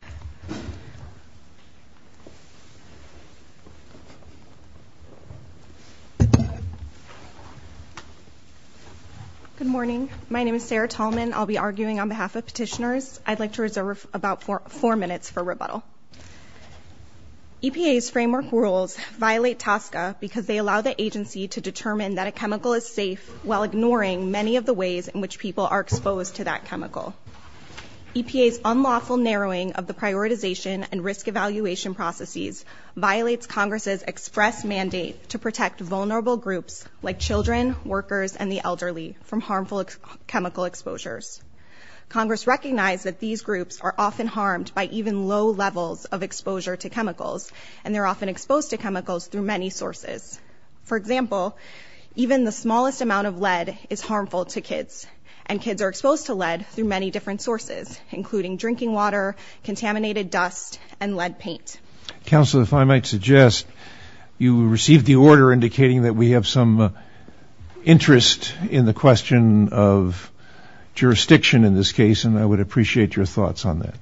Good morning. My name is Sarah Tallman. I'll be arguing on behalf of petitioners. I'd like to reserve about four minutes for rebuttal. EPA's framework rules violate TSCA because they allow the agency to determine that a chemical is safe while ignoring many of the prioritization and risk evaluation processes violates Congress's express mandate to protect vulnerable groups like children, workers, and the elderly from harmful chemical exposures. Congress recognized that these groups are often harmed by even low levels of exposure to chemicals, and they're often exposed to chemicals through many sources. For example, even the smallest amount of lead is harmful to kids, and kids are exposed to lead through many different sources, including drinking water, contaminated dust, and lead paint. Counsel, if I might suggest, you received the order indicating that we have some interest in the question of jurisdiction in this case, and I would appreciate your thoughts on that.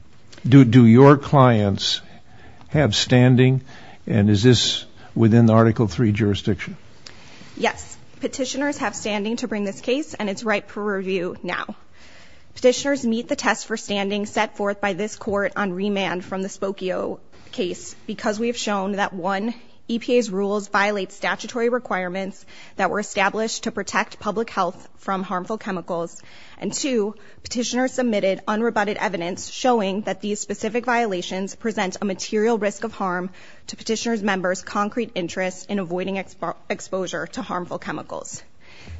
Do your clients have standing, and is this within the Article III jurisdiction? Yes. Petitioners have standing to bring this case, and it's ripe for review now. Petitioners meet the test for standing set forth by this Court on remand from the Spokio case because we have shown that one, EPA's rules violate statutory requirements that were established to protect public health from harmful chemicals, and two, petitioners submitted unrebutted evidence showing that these specific violations present a material risk of harm to petitioners' concrete interest in avoiding exposure to harmful chemicals.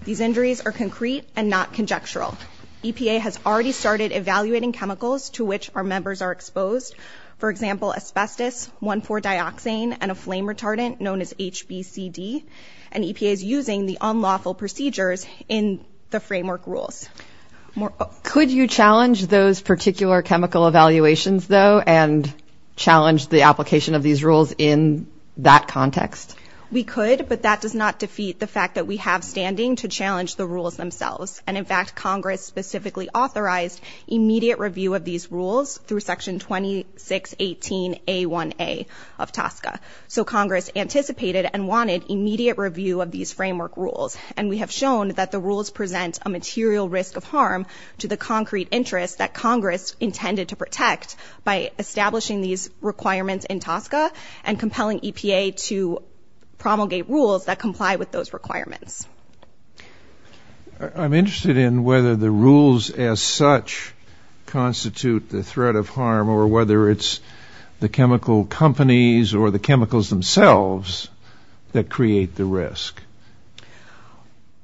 These injuries are concrete and not conjectural. EPA has already started evaluating chemicals to which our members are exposed, for example, asbestos, 1,4-dioxane, and a flame retardant known as HBCD, and EPA is using the unlawful procedures in the framework rules. Could you challenge those particular chemical evaluations, though, and challenge the application of these rules in that context? We could, but that does not defeat the fact that we have standing to challenge the rules themselves, and in fact, Congress specifically authorized immediate review of these rules through Section 2618A1A of TSCA, so Congress anticipated and wanted immediate review of these framework rules, and we have shown that the rules present a material risk of harm to the concrete interest that Congress intended to protect by establishing these requirements in TSCA and compelling EPA to promulgate rules that comply with those requirements. I'm interested in whether the rules as such constitute the threat of harm or whether it's the chemical companies or the chemicals themselves that create the risk.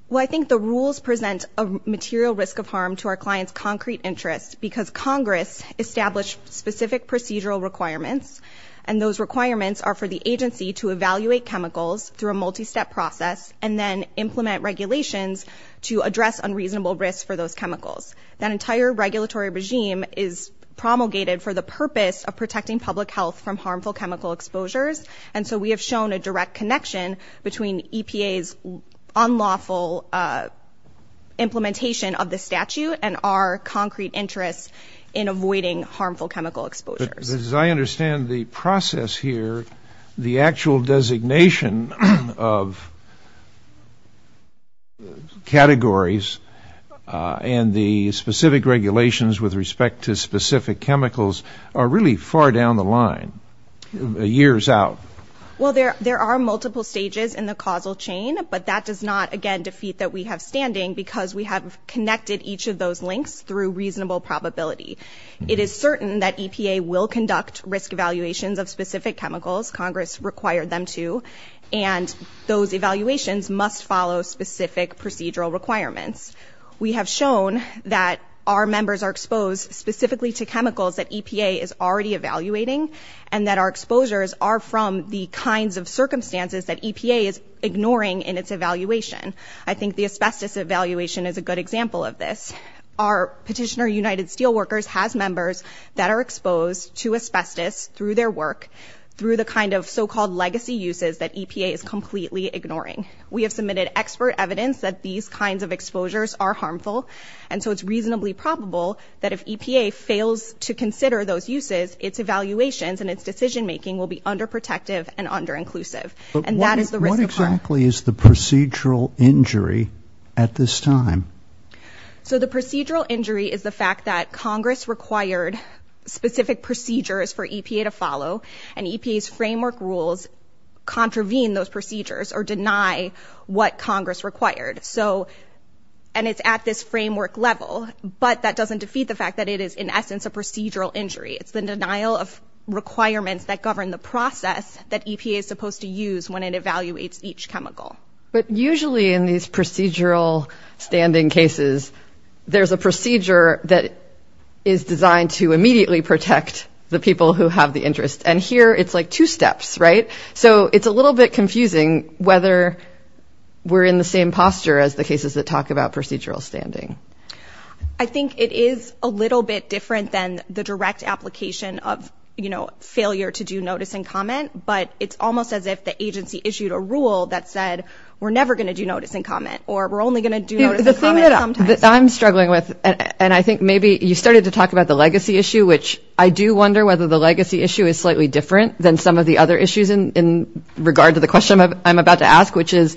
Well, I think the rules present a material risk of harm to our clients' concrete interest because Congress established specific procedural requirements, and those requirements are for the agency to evaluate chemicals through a multi-step process and then implement regulations to address unreasonable risks for those chemicals. That entire regulatory regime is promulgated for the purpose of protecting public health from harmful chemical exposures, and so we have shown a direct connection between EPA's unlawful implementation of the statute and our concrete interest in avoiding harmful chemical exposures. But as I understand the process here, the actual designation of categories and the specific regulations with respect to specific chemicals are really far down the line, years out. Well, there are multiple stages in the causal chain, but that does not, again, defeat that we have standing because we have connected each of those links through reasonable probability. It is certain that EPA will conduct risk evaluations of specific chemicals, Congress required them to, and those evaluations must follow specific procedural requirements. We have shown that our members are exposed specifically to chemicals that EPA is already evaluating, and that our exposures are from the kinds of circumstances that EPA is ignoring in its evaluation. I think the asbestos evaluation is a good example of this. Our petitioner, United Steelworkers, has members that are exposed to asbestos through their work, through the kind of so-called legacy uses that EPA is completely ignoring. We have submitted expert evidence that these kinds of exposures are harmful, and so it's decision-making will be under-protective and under-inclusive, and that is the risk of harm. But what exactly is the procedural injury at this time? So the procedural injury is the fact that Congress required specific procedures for EPA to follow, and EPA's framework rules contravene those procedures or deny what Congress required. And it's at this framework level, but that doesn't defeat the fact that it is, in essence, a procedural injury. It's the denial of requirements that govern the process that EPA is supposed to use when it evaluates each chemical. But usually in these procedural standing cases, there's a procedure that is designed to immediately protect the people who have the interest, and here it's like two steps, right? So it's a little bit confusing whether we're in the same posture as the cases that talk about procedural standing. I think it is a little bit different than the direct application of, you know, failure to do notice and comment, but it's almost as if the agency issued a rule that said we're never going to do notice and comment, or we're only going to do notice and comment sometimes. The thing that I'm struggling with, and I think maybe you started to talk about the legacy issue, which I do wonder whether the legacy issue is slightly different than some of the other issues in regard to the question I'm about to ask, which is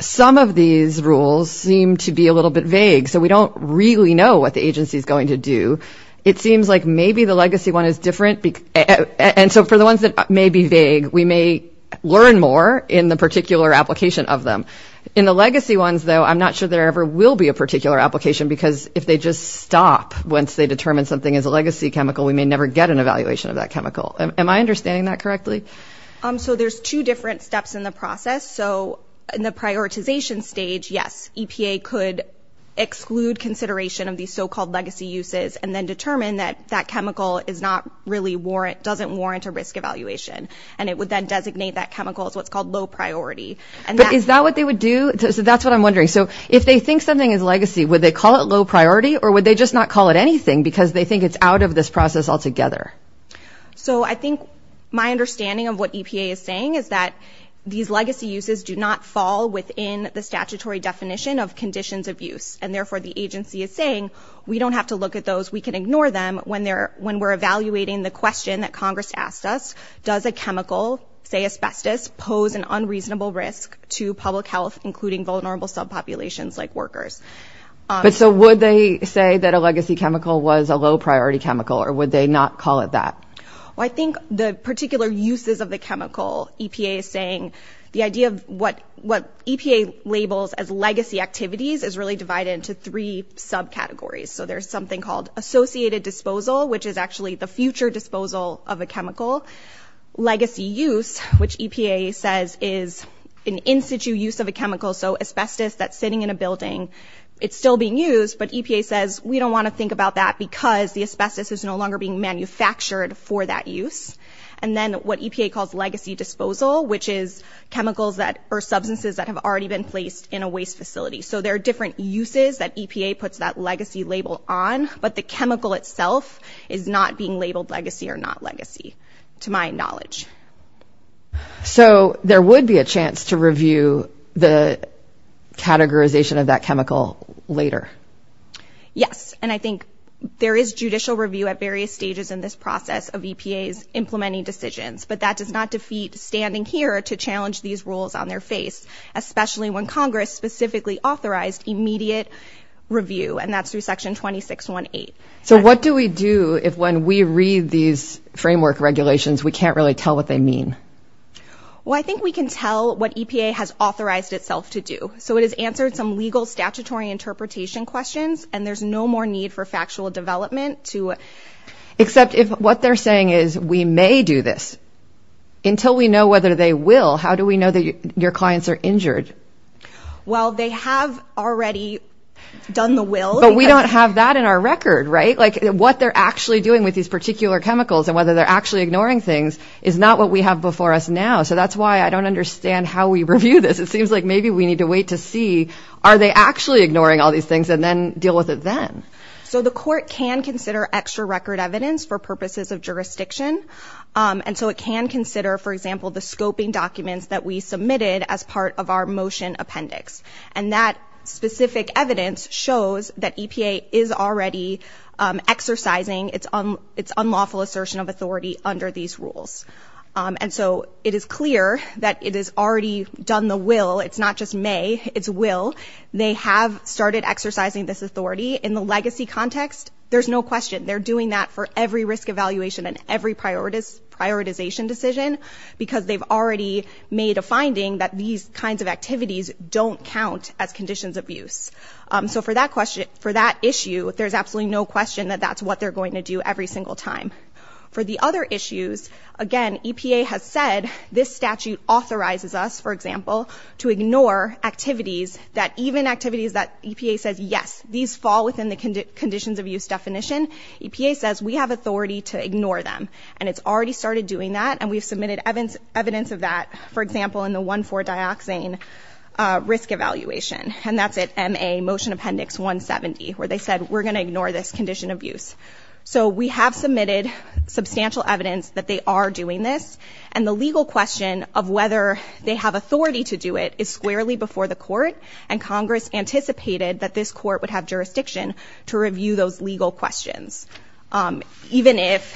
some of these rules seem to be a little bit vague, so we don't really know what the agency is going to do. It seems like maybe the legacy one is different, and so for the ones that may be vague, we may learn more in the particular application of them. In the legacy ones, though, I'm not sure there ever will be a particular application because if they just stop once they determine something is a legacy chemical, we may never get an evaluation of that chemical. Am I understanding that correctly? So there's two different steps in the process. So in the prioritization stage, yes, EPA could exclude consideration of these so-called legacy uses and then determine that that chemical is not really warrant, doesn't warrant a risk evaluation, and it would then designate that chemical as what's called low priority. Is that what they would do? That's what I'm wondering. So if they think something is legacy, would they call it low priority, or would they just not call it anything because they think it's out of this process altogether? So I think my understanding of what EPA is saying is that these legacy uses do not fall within the statutory definition of conditions of use, and therefore the agency is saying we don't have to look at those. We can ignore them when we're evaluating the question that Congress asked us, does a chemical, say asbestos, pose an unreasonable risk to public health, including vulnerable subpopulations like workers? But so would they say that a legacy chemical was a low priority chemical, or would they not call it that? Well, I think the particular uses of the chemical, EPA is saying, the idea of what EPA labels as legacy activities is really divided into three subcategories. So there's something called associated disposal, which is actually the future disposal of a chemical. Legacy use, which EPA says is an in-situ use of a chemical, so asbestos that's sitting in a building, it's still being used, but EPA says we don't want to think about that because the asbestos is no longer being manufactured for that use. And then what EPA calls legacy disposal, which is chemicals that are substances that have already been placed in a waste facility. So there are different uses that EPA puts that legacy label on, but the chemical itself is not being labeled legacy or not legacy, to my knowledge. So there would be a chance to review the categorization of that chemical later? Yes, and I think there is judicial review at various stages in this process of EPA's implementing decisions, but that does not defeat standing here to challenge these rules on their face, especially when Congress specifically authorized immediate review, and that's through section 2618. So what do we do if when we read these framework regulations, we can't really tell what they mean? Well, I think we can tell what EPA has authorized itself to do. So it has answered some legal and statutory interpretation questions, and there's no more need for factual development to... Except if what they're saying is we may do this. Until we know whether they will, how do we know that your clients are injured? Well, they have already done the will. But we don't have that in our record, right? Like what they're actually doing with these particular chemicals and whether they're actually ignoring things is not what we have before us now. So that's why I don't understand how we review this. It seems like maybe we need to wait to see, are they actually ignoring all these things and then deal with it then? So the court can consider extra record evidence for purposes of jurisdiction. And so it can consider, for example, the scoping documents that we submitted as part of our motion appendix. And that specific evidence shows that EPA is already exercising its unlawful assertion of authority under these rules. And so it is clear that it has already done the will. It's not just may, it's will. They have started exercising this authority in the legacy context. There's no question they're doing that for every risk evaluation and every prioritization decision, because they've already made a finding that these kinds of activities don't count as conditions of use. So for that issue, there's absolutely no question that that's what they're going to do every single time. For the other issues, again, EPA has said this statute authorizes us, for example, to ignore activities that even activities that EPA says, yes, these fall within the conditions of use definition. EPA says we have authority to ignore them. And it's already started doing that. And we've submitted evidence of that, for example, in the 1-4 dioxane risk evaluation. And that's at MA motion appendix 170, where they said we're going to ignore this condition of use. So we have submitted substantial evidence that they are doing this. And the legal question of whether they have authority to do it is squarely before the court. And Congress anticipated that this court would have jurisdiction to review those legal questions. Even if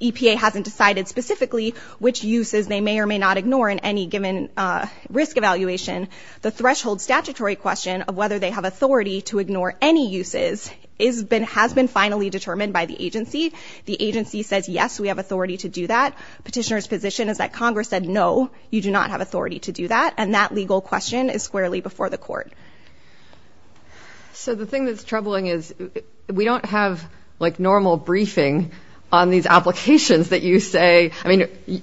EPA hasn't decided specifically which uses they may or may not ignore in any given risk evaluation, the threshold statutory question of whether they have authority to ignore any uses has been finally determined by the agency. The agency says, yes, we have authority to do that. Petitioner's position is that Congress said no, you do not have authority to do that. And that legal question is squarely before the court. So the thing that's troubling is we don't have, like, normal briefing on these applications that you say, I mean,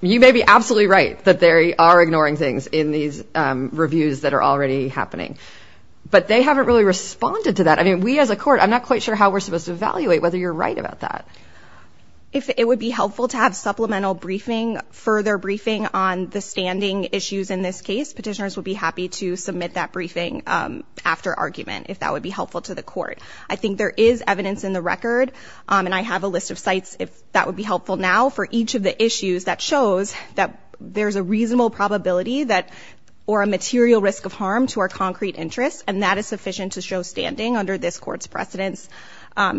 you may be absolutely right that they are ignoring things in these I mean, we as a court, I'm not quite sure how we're supposed to evaluate whether you're right about that. If it would be helpful to have supplemental briefing, further briefing on the standing issues in this case, petitioners would be happy to submit that briefing after argument if that would be helpful to the court. I think there is evidence in the record. And I have a list of sites if that would be helpful now for each of the issues that shows that there's a reasonable probability that or a material risk of harm to our concrete interests. And that is sufficient to show standing under this court's precedence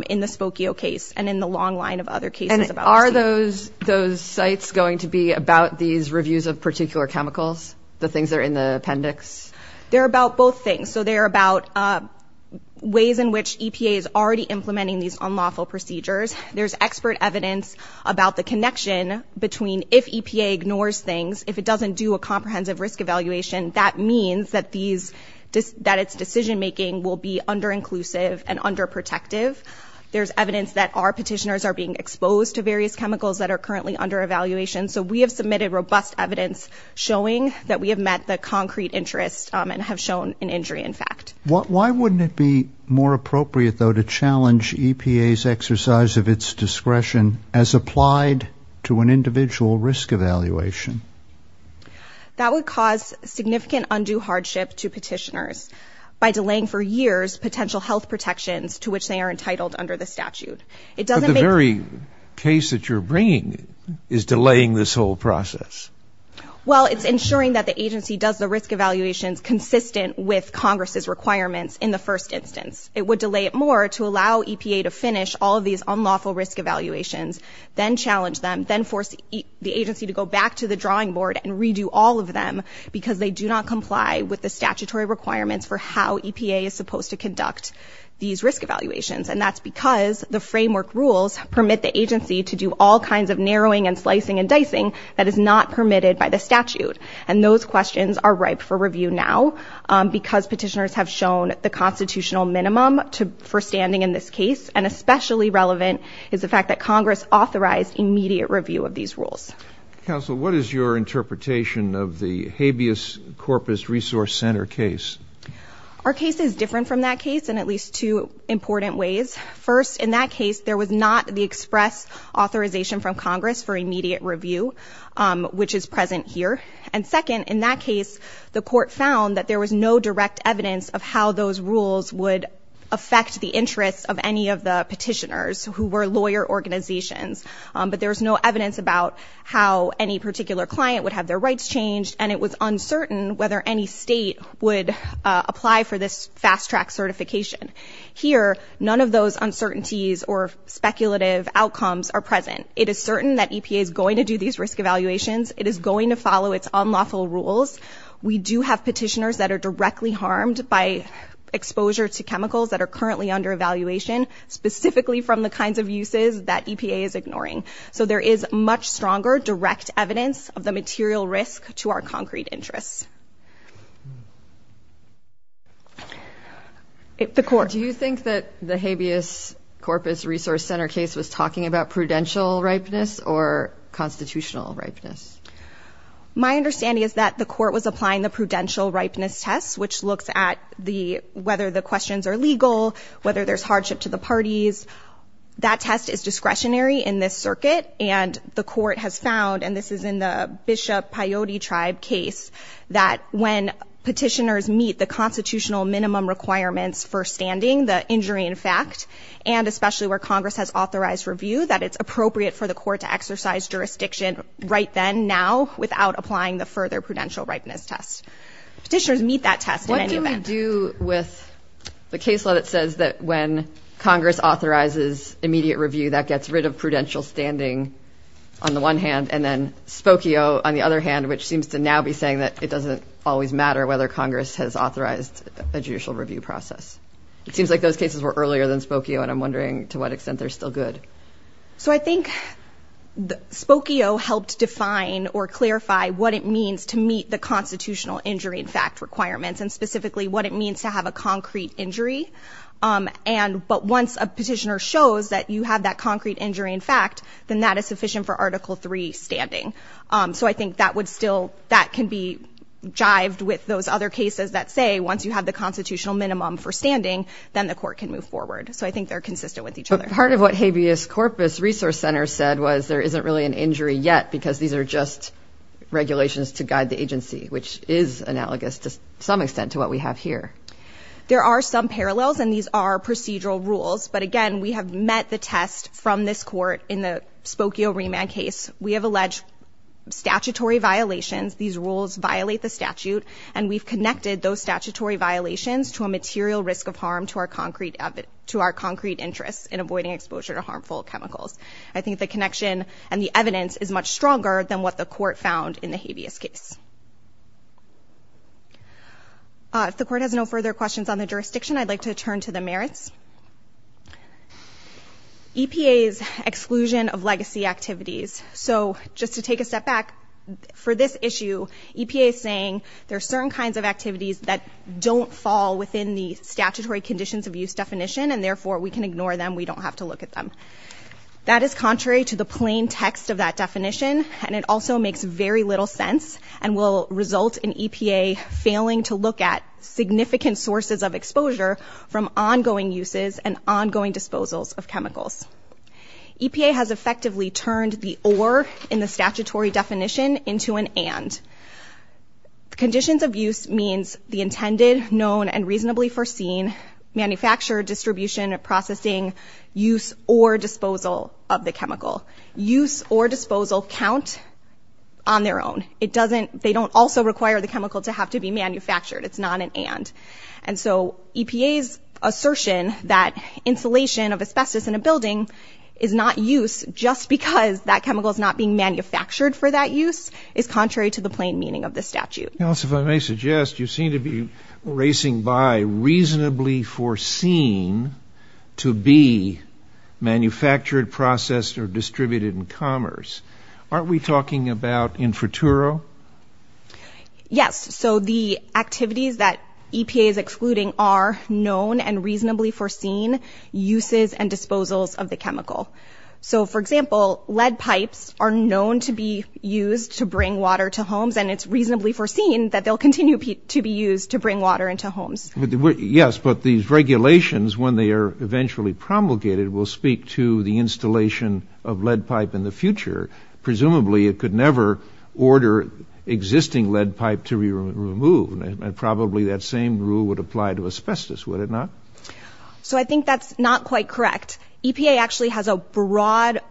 in the Spokio case and in the long line of other cases. Are those those sites going to be about these reviews of particular chemicals, the things that are in the appendix? They're about both things. So they're about ways in which EPA is already implementing these unlawful procedures. There's expert evidence about the connection between if EPA ignores things, if it doesn't do a comprehensive risk evaluation, that means that these that its decision making will be under inclusive and under protective. There's evidence that our petitioners are being exposed to various chemicals that are currently under evaluation. So we have submitted robust evidence showing that we have met the concrete interest and have shown an injury. In fact, Why wouldn't it be more appropriate, though, to challenge EPA's exercise of its discretion as applied to an individual risk evaluation? That would cause significant undue hardship to petitioners by delaying for years potential health protections to which they are entitled under the statute. It doesn't make very case that you're bringing is delaying this whole process. Well, it's ensuring that the agency does the risk evaluations consistent with Congress's requirements in the first instance. It would delay it more to allow EPA to finish all of these unlawful risk evaluations, then challenge them, then force the agency to go back to the drawing board and redo all of them because they do not comply with the statutory requirements for how EPA is supposed to conduct these risk evaluations. And that's because the framework rules permit the agency to do all kinds of narrowing and slicing and dicing that is not permitted by the statute. And those questions are ripe for review now because petitioners have shown the constitutional minimum to for standing in this case. And especially relevant is the fact that Congress authorized immediate review of these rules. Counsel, what is your interpretation of the habeas corpus resource center case? Our case is different from that case in at least two important ways. First, in that case, there was not the express authorization from Congress for immediate review, which is present here. And second, in that case, the court found that there was no direct evidence of how those rules would affect the interests of any of the petitioners who were lawyer organizations. But there was no evidence about how any particular client would have their rights changed. And it was uncertain whether any state would apply for this fast track certification here. None of those uncertainties or speculative outcomes are present. It is certain that EPA is going to do these risk evaluations. It is going to follow its unlawful rules. We do have petitioners that are directly harmed by exposure to chemicals that are currently under evaluation, specifically from the kinds of uses that EPA is ignoring. So there is much stronger direct evidence of the material risk to our concrete interests. Do you think that the habeas corpus resource center case was talking about prudential ripeness or constitutional ripeness? My understanding is that the court was applying the prudential ripeness test, which looks at whether the questions are legal, whether there's hardship to the parties. That test is discretionary in this circuit. And the court has found, and this is in the Bishop Paioti tribe case, that when petitioners meet the constitutional minimum requirements for standing, the injury in fact, and especially where Congress has authorized review, that it's appropriate for the court to exercise jurisdiction right then, now, without applying the further prudential ripeness test. Petitioners meet that test in any event. What do we do with the case law that says that when Congress authorizes immediate review, that gets rid of prudential standing on the one hand, and then Spokio on the other hand, which seems to now be saying that it doesn't always matter whether Congress has authorized a judicial review process. It seems like those cases were earlier than Spokio, and I'm wondering to what extent they're still good. So I think Spokio helped define or clarify what it means to meet the constitutional injury in fact requirements, and specifically what it means to have a concrete injury. But once a petitioner shows that you have that concrete injury in fact, then that is sufficient for Article III standing. So I think that would still, that can be jived with those other cases that say once you have the constitutional minimum for standing, then the court can move forward. So I think they're consistent with each other. Part of what Habeas Corpus Resource Center said was there isn't really an injury yet because these are just regulations to guide the agency, which is analogous to some extent to what we have here. There are some parallels, and these are procedural rules. But again, we have met the test from this court in the Spokio remand case. We have alleged statutory violations. These rules violate the statute, and we've connected those statutory violations to a material risk of harm to our concrete interest in avoiding exposure to harmful chemicals. I think the connection and the evidence is much stronger than what the court found in the Habeas case. If the court has no further questions on the jurisdiction, I'd like to turn to the merits. EPA's exclusion of legacy activities. So just to take a step back, for this issue, EPA is saying there are certain kinds of activities that don't fall within the statutory conditions of use definition, and therefore we can ignore them. We don't have to look at them. That is contrary to the plain text of that definition, and it also makes very little sense and will result in EPA failing to look at significant sources of exposure from ongoing uses and ongoing disposals of chemicals. EPA has effectively turned the or in the statutory definition into an and. Conditions of use means the intended, known, and reasonably foreseen manufacture, distribution, processing, use, or disposal of the chemical. Use or disposal count on their own. It doesn't, they don't also require the chemical to have to be manufactured. It's not an and. And so EPA's assertion that insulation of asbestos in a building is not use just because that chemical is not being manufactured for that use is contrary to the plain meaning of the statute. If I may suggest, you seem to be racing by reasonably foreseen to be manufactured, processed, or distributed in commerce. Aren't we talking about infraturo? Yes, so the activities that EPA is excluding are known and reasonably foreseen uses and disposals of the chemical. So, for example, lead pipes are known to be used to bring water to homes, and it's reasonably foreseen that they'll continue to be used to bring water into homes. Yes, but these regulations, when they are eventually promulgated, will speak to the installation of lead pipe in the future. Presumably it could never order existing lead pipe to be removed, and probably that same rule would apply to asbestos, would it not? So I think that's not quite correct. EPA actually has a broad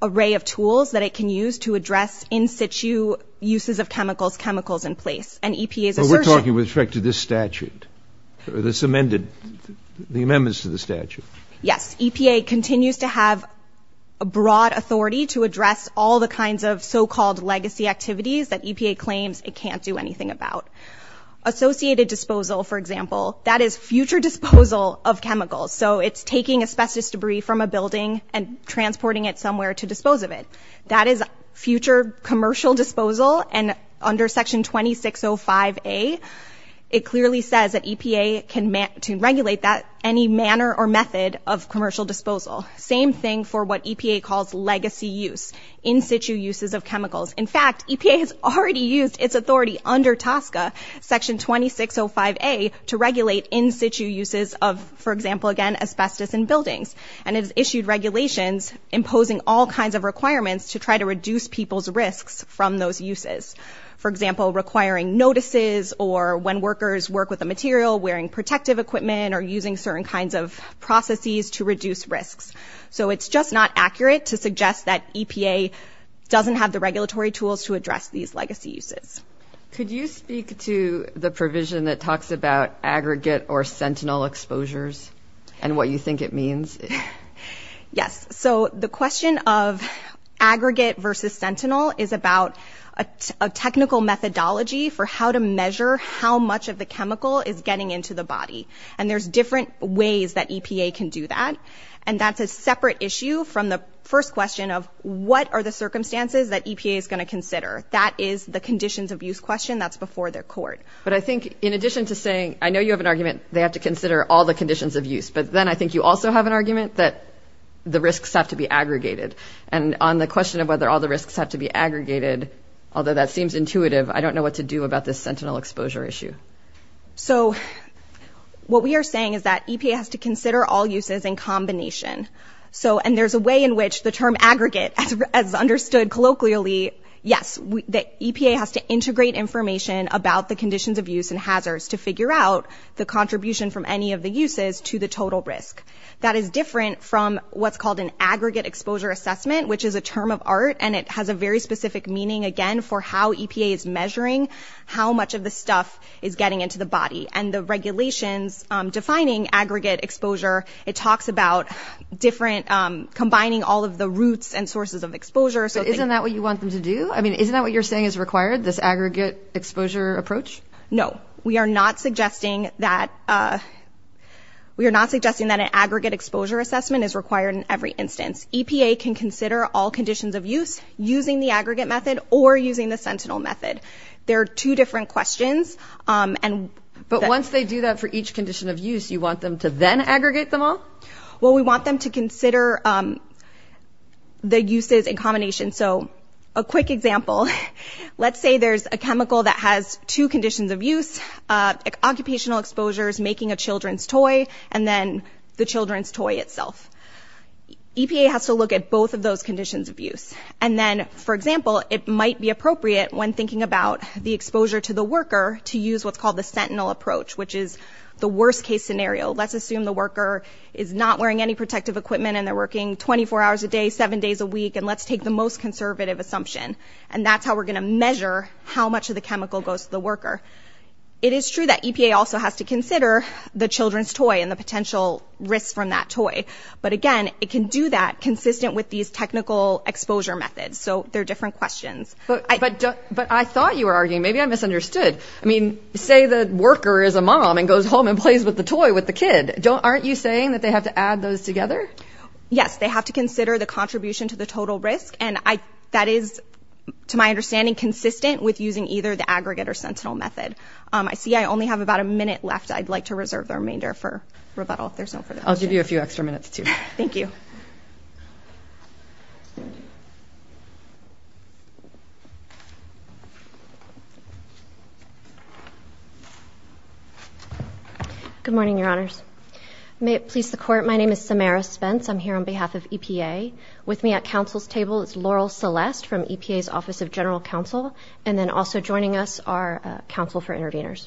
array of tools that it can use to address in situ uses of chemicals, chemicals in place, and EPA's assertion But we're talking with respect to this statute, this amended, the amendments to the statute. Yes, EPA continues to have a broad authority to address all the kinds of so-called legacy activities that EPA claims it can't do anything about. Associated disposal, for example, that is future disposal of chemicals. So it's taking asbestos debris from a building and transporting it somewhere to dispose of it. That is future commercial disposal, and under Section 2605A, it clearly says that EPA can regulate that any manner or method of commercial disposal. Same thing for what EPA calls legacy use, in situ uses of chemicals. In fact, EPA has already used its authority under TSCA, Section 2605A, to regulate in situ uses of, for example again, asbestos in buildings. And it has issued regulations imposing all kinds of requirements to try to reduce people's risks from those uses. For example, requiring notices, or when workers work with the material, wearing protective equipment, or using certain kinds of processes to reduce risks. So it's just not accurate to suggest that EPA doesn't have the regulatory tools to address these legacy uses. Could you speak to the provision that talks about aggregate or sentinel exposures and what you think it means? Yes. So the question of aggregate versus sentinel is about a technical methodology for how to measure how much of the chemical is getting into the body. And there's different ways that EPA can do that. And that's a separate issue from the first question of what are the circumstances that EPA is going to consider. That is the conditions of use question. That's before their court. But I think, in addition to saying, I know you have an argument, they have to consider all the conditions of use. But then I think you also have an argument that the risks have to be aggregated. And on the question of whether all the risks have to be aggregated, although that seems intuitive, I don't know what to do about this sentinel exposure issue. So what we are saying is that EPA has to consider all uses in combination. So, and there's a way in which the term aggregate, as understood colloquially, yes, the EPA has to integrate information about the conditions of use and hazards to figure out the contribution from any of the uses to the total risk. That is different from what's called an aggregate exposure assessment, which is a term of art and it has a very specific meaning, again, for how EPA is measuring how much of the stuff is getting into the body. And the regulations defining aggregate exposure, it talks about different, combining all of the roots and sources of exposure. So isn't that what you want them to do? I mean, isn't that what you're saying is required, this aggregate exposure approach? No, we are not suggesting that, we are not suggesting that an aggregate exposure assessment is required in every instance. EPA can consider all conditions of use using the aggregate method or using the sentinel method. There are two different questions. But once they do that for each condition of use, you want them to then aggregate them all? Well, we want them to consider the uses in combination. So a quick example, let's say there's a chemical that has two conditions of use, occupational exposures, making a children's toy, and then the children's toy itself. EPA has to look at both of those conditions of use. And then, for example, it might be appropriate when thinking about the exposure to the worker to use what's called the sentinel approach, which is the worst case scenario. Let's assume the worker is not wearing any protective equipment, and they're working 24 hours a day, seven days a week, and let's take the most conservative assumption. And that's how we're going to measure how much of the chemical goes to the worker. It is true that EPA also has to consider the children's toy and the potential risks from that toy. But again, it can do that consistent with these technical exposure methods. So they're different questions. But I thought you were arguing, maybe I misunderstood. I mean, say the worker is a mom and goes home and plays with the toy with the kid. Aren't you saying that they have to add those together? Yes, they have to consider the contribution to the total risk. And that is, to my understanding, consistent with using either the aggregate or sentinel method. I see I only have about a minute left. I'd like to reserve the remainder for rebuttal if there's no further questions. I'll give you a few extra minutes, too. Thank you. Good morning, Your Honors. May it please the Court, my name is Samara Spence. I'm here on behalf of EPA. With me at counsel's table is Laurel Celeste from EPA's Office of General Counsel, and then also joining us are counsel for interveners.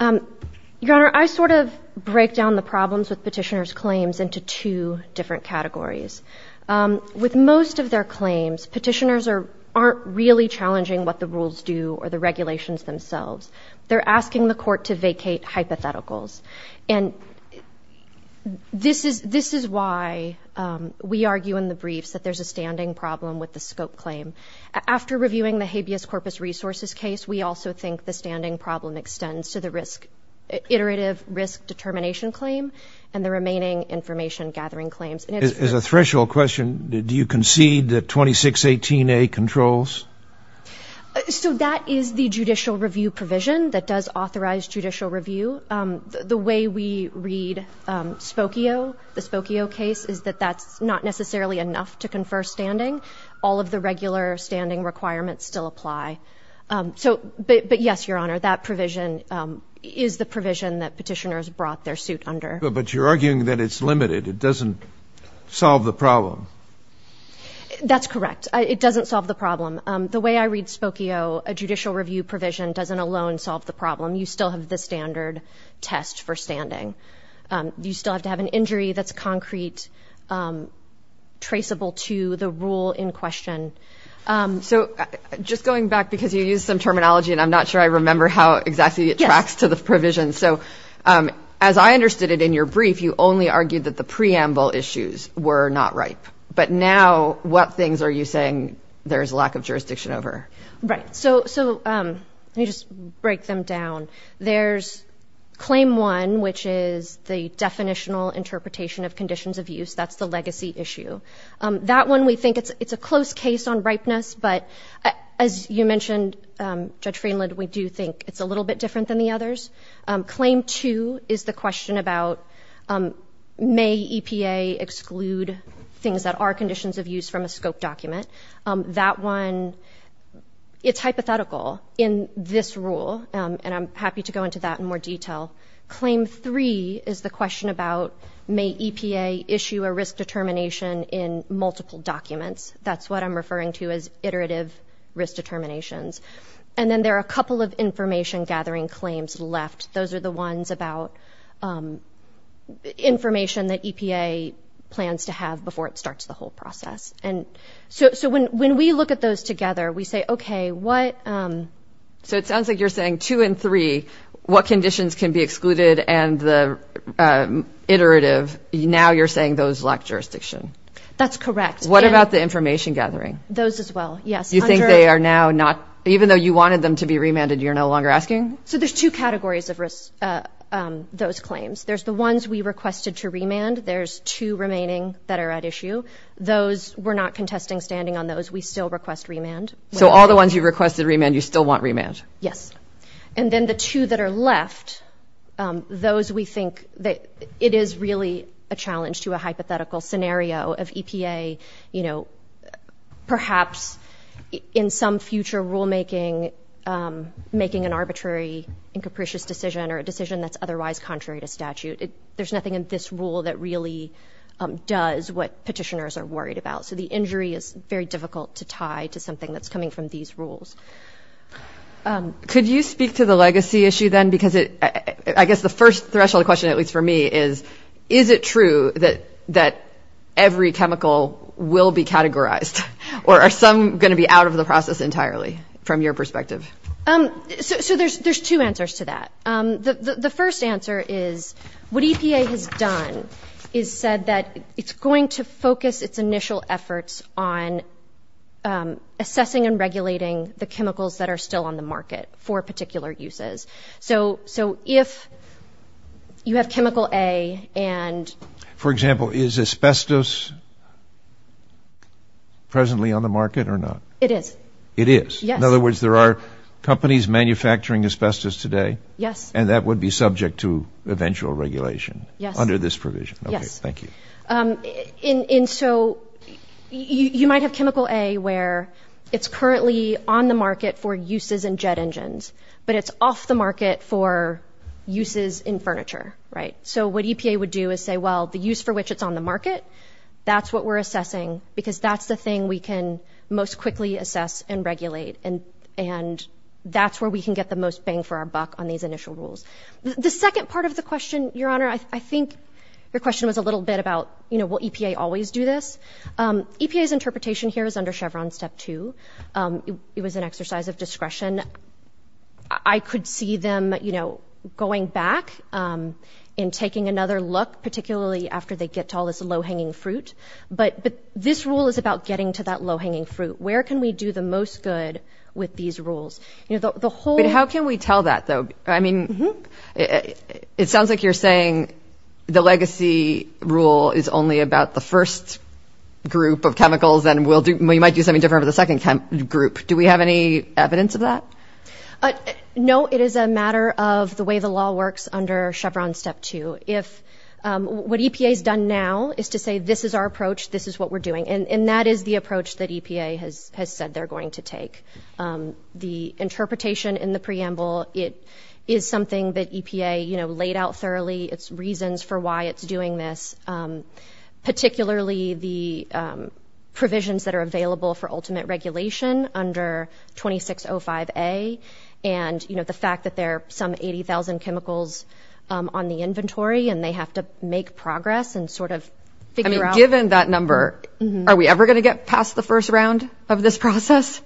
Your Honor, I sort of break down the problems with petitioner's claims into two different categories. With most of their claims, petitioners aren't really challenging what the rules do or the regulations themselves. They're asking the Court to vacate hypotheticals. And this is why we argue in the briefs that there's a standing problem with the scope claim. After reviewing the habeas corpus resources case, we also think the standing problem extends to the iterative risk determination claim and the remaining information gathering claims. As a threshold question, do you concede that 2618A controls? So that is the judicial review provision that does authorize judicial review. The way we read Spokio, the Spokio case, is that that's not necessarily enough to confer standing. All of the regular standing requirements still apply. But yes, Your Honor, that provision is the provision that petitioners brought their suit under. But you're arguing that it's limited. It doesn't solve the problem. That's correct. It doesn't solve the problem. The way I read Spokio, a judicial review provision doesn't alone solve the problem. You still have the standard test for standing. You still have to have an injury that's concrete, traceable to the rule in question. So just going back, because you used some terminology and I'm not sure I remember how exactly it tracks to the provision. So as I understood it in your brief, you only argued that the preamble issues were not ripe. But now, what things are you saying there's lack of jurisdiction over? Right. So let me just break them down. There's claim one, which is the definitional interpretation of conditions of use. That's the legacy issue. That one, we think it's a close case on ripeness. But as you mentioned, Judge Freeland, we do think it's a little bit different than the others. Claim two is the question about may EPA exclude things that are conditions of use from a scope document. That one, it's hypothetical in this rule. And I'm happy to go into that in more detail. Claim three is the question about may EPA issue a risk determination in multiple documents. That's what I'm referring to as iterative risk determinations. And then there are a couple of information gathering claims left. Those are the ones about information that EPA plans to have before it starts the whole process. And so when we look at those together, we say, okay, what... So it sounds like you're saying two and three, what conditions can be excluded and the iterative. Now you're saying those lack jurisdiction. That's correct. What about the information gathering? Those as well, yes. You think they are now not... Even though you wanted them to be remanded, you're no longer asking? So there's two categories of those claims. There's the ones we requested to remand. There's two remaining that are at issue. Those, we're not contesting standing on those. We still request remand. So all the ones you requested remand, you still want remand? Yes. And then the two that are left, those we think that it is really a challenge to a hypothetical scenario of EPA, you know, perhaps in some future rulemaking, making an arbitrary and capricious decision or a decision that's otherwise contrary to statute. There's nothing in this rule that really does what petitioners are worried about. So the injury is very difficult to tie to something that's coming from these rules. Could you speak to the legacy issue then? Because I guess the first threshold question, at least for me, is, is it true that every chemical will be categorized? Or are some going to be out of the process entirely, from your perspective? So there's two answers to that. The first answer is what EPA has done is said that it's going to focus its initial efforts on assessing and regulating the chemicals that are still on the market. For particular uses. So if you have chemical A and... For example, is asbestos presently on the market or not? It is. It is. In other words, there are companies manufacturing asbestos today. Yes. And that would be subject to eventual regulation under this provision. Yes. Thank you. And so you might have chemical A where it's currently on the market for uses in jet engines, but it's off the market for uses in furniture, right? So what EPA would do is say, well, the use for which it's on the market, that's what we're assessing, because that's the thing we can most quickly assess and regulate. And that's where we can get the most bang for our buck on these initial rules. The second part of the question, Your Honor, I think your question was a little bit about, you know, will EPA always do this? EPA's interpretation here is under Chevron Step 2. It was an exercise of discretion. I could see them, you know, going back and taking another look, particularly after they get to all this low-hanging fruit. But this rule is about getting to that low-hanging fruit. Where can we do the most good with these rules? But how can we tell that, though? I mean, it sounds like you're saying the legacy rule is only about the first group of chemicals and we might do something different for the second group. Do we have any evidence of that? No. It is a matter of the way the law works under Chevron Step 2. What EPA's done now is to say, this is our approach, this is what we're doing. And that is the approach that EPA has said they're going to take. The interpretation in the preamble, it is something that EPA, you know, laid out thoroughly. It's reasons for why it's doing this, particularly the provisions that are available for ultimate regulation under 2605A, and, you know, the fact that there are some 80,000 chemicals on the inventory and they have to make progress and sort of figure out... I mean, given that number, are we ever going to get past the first round of this process?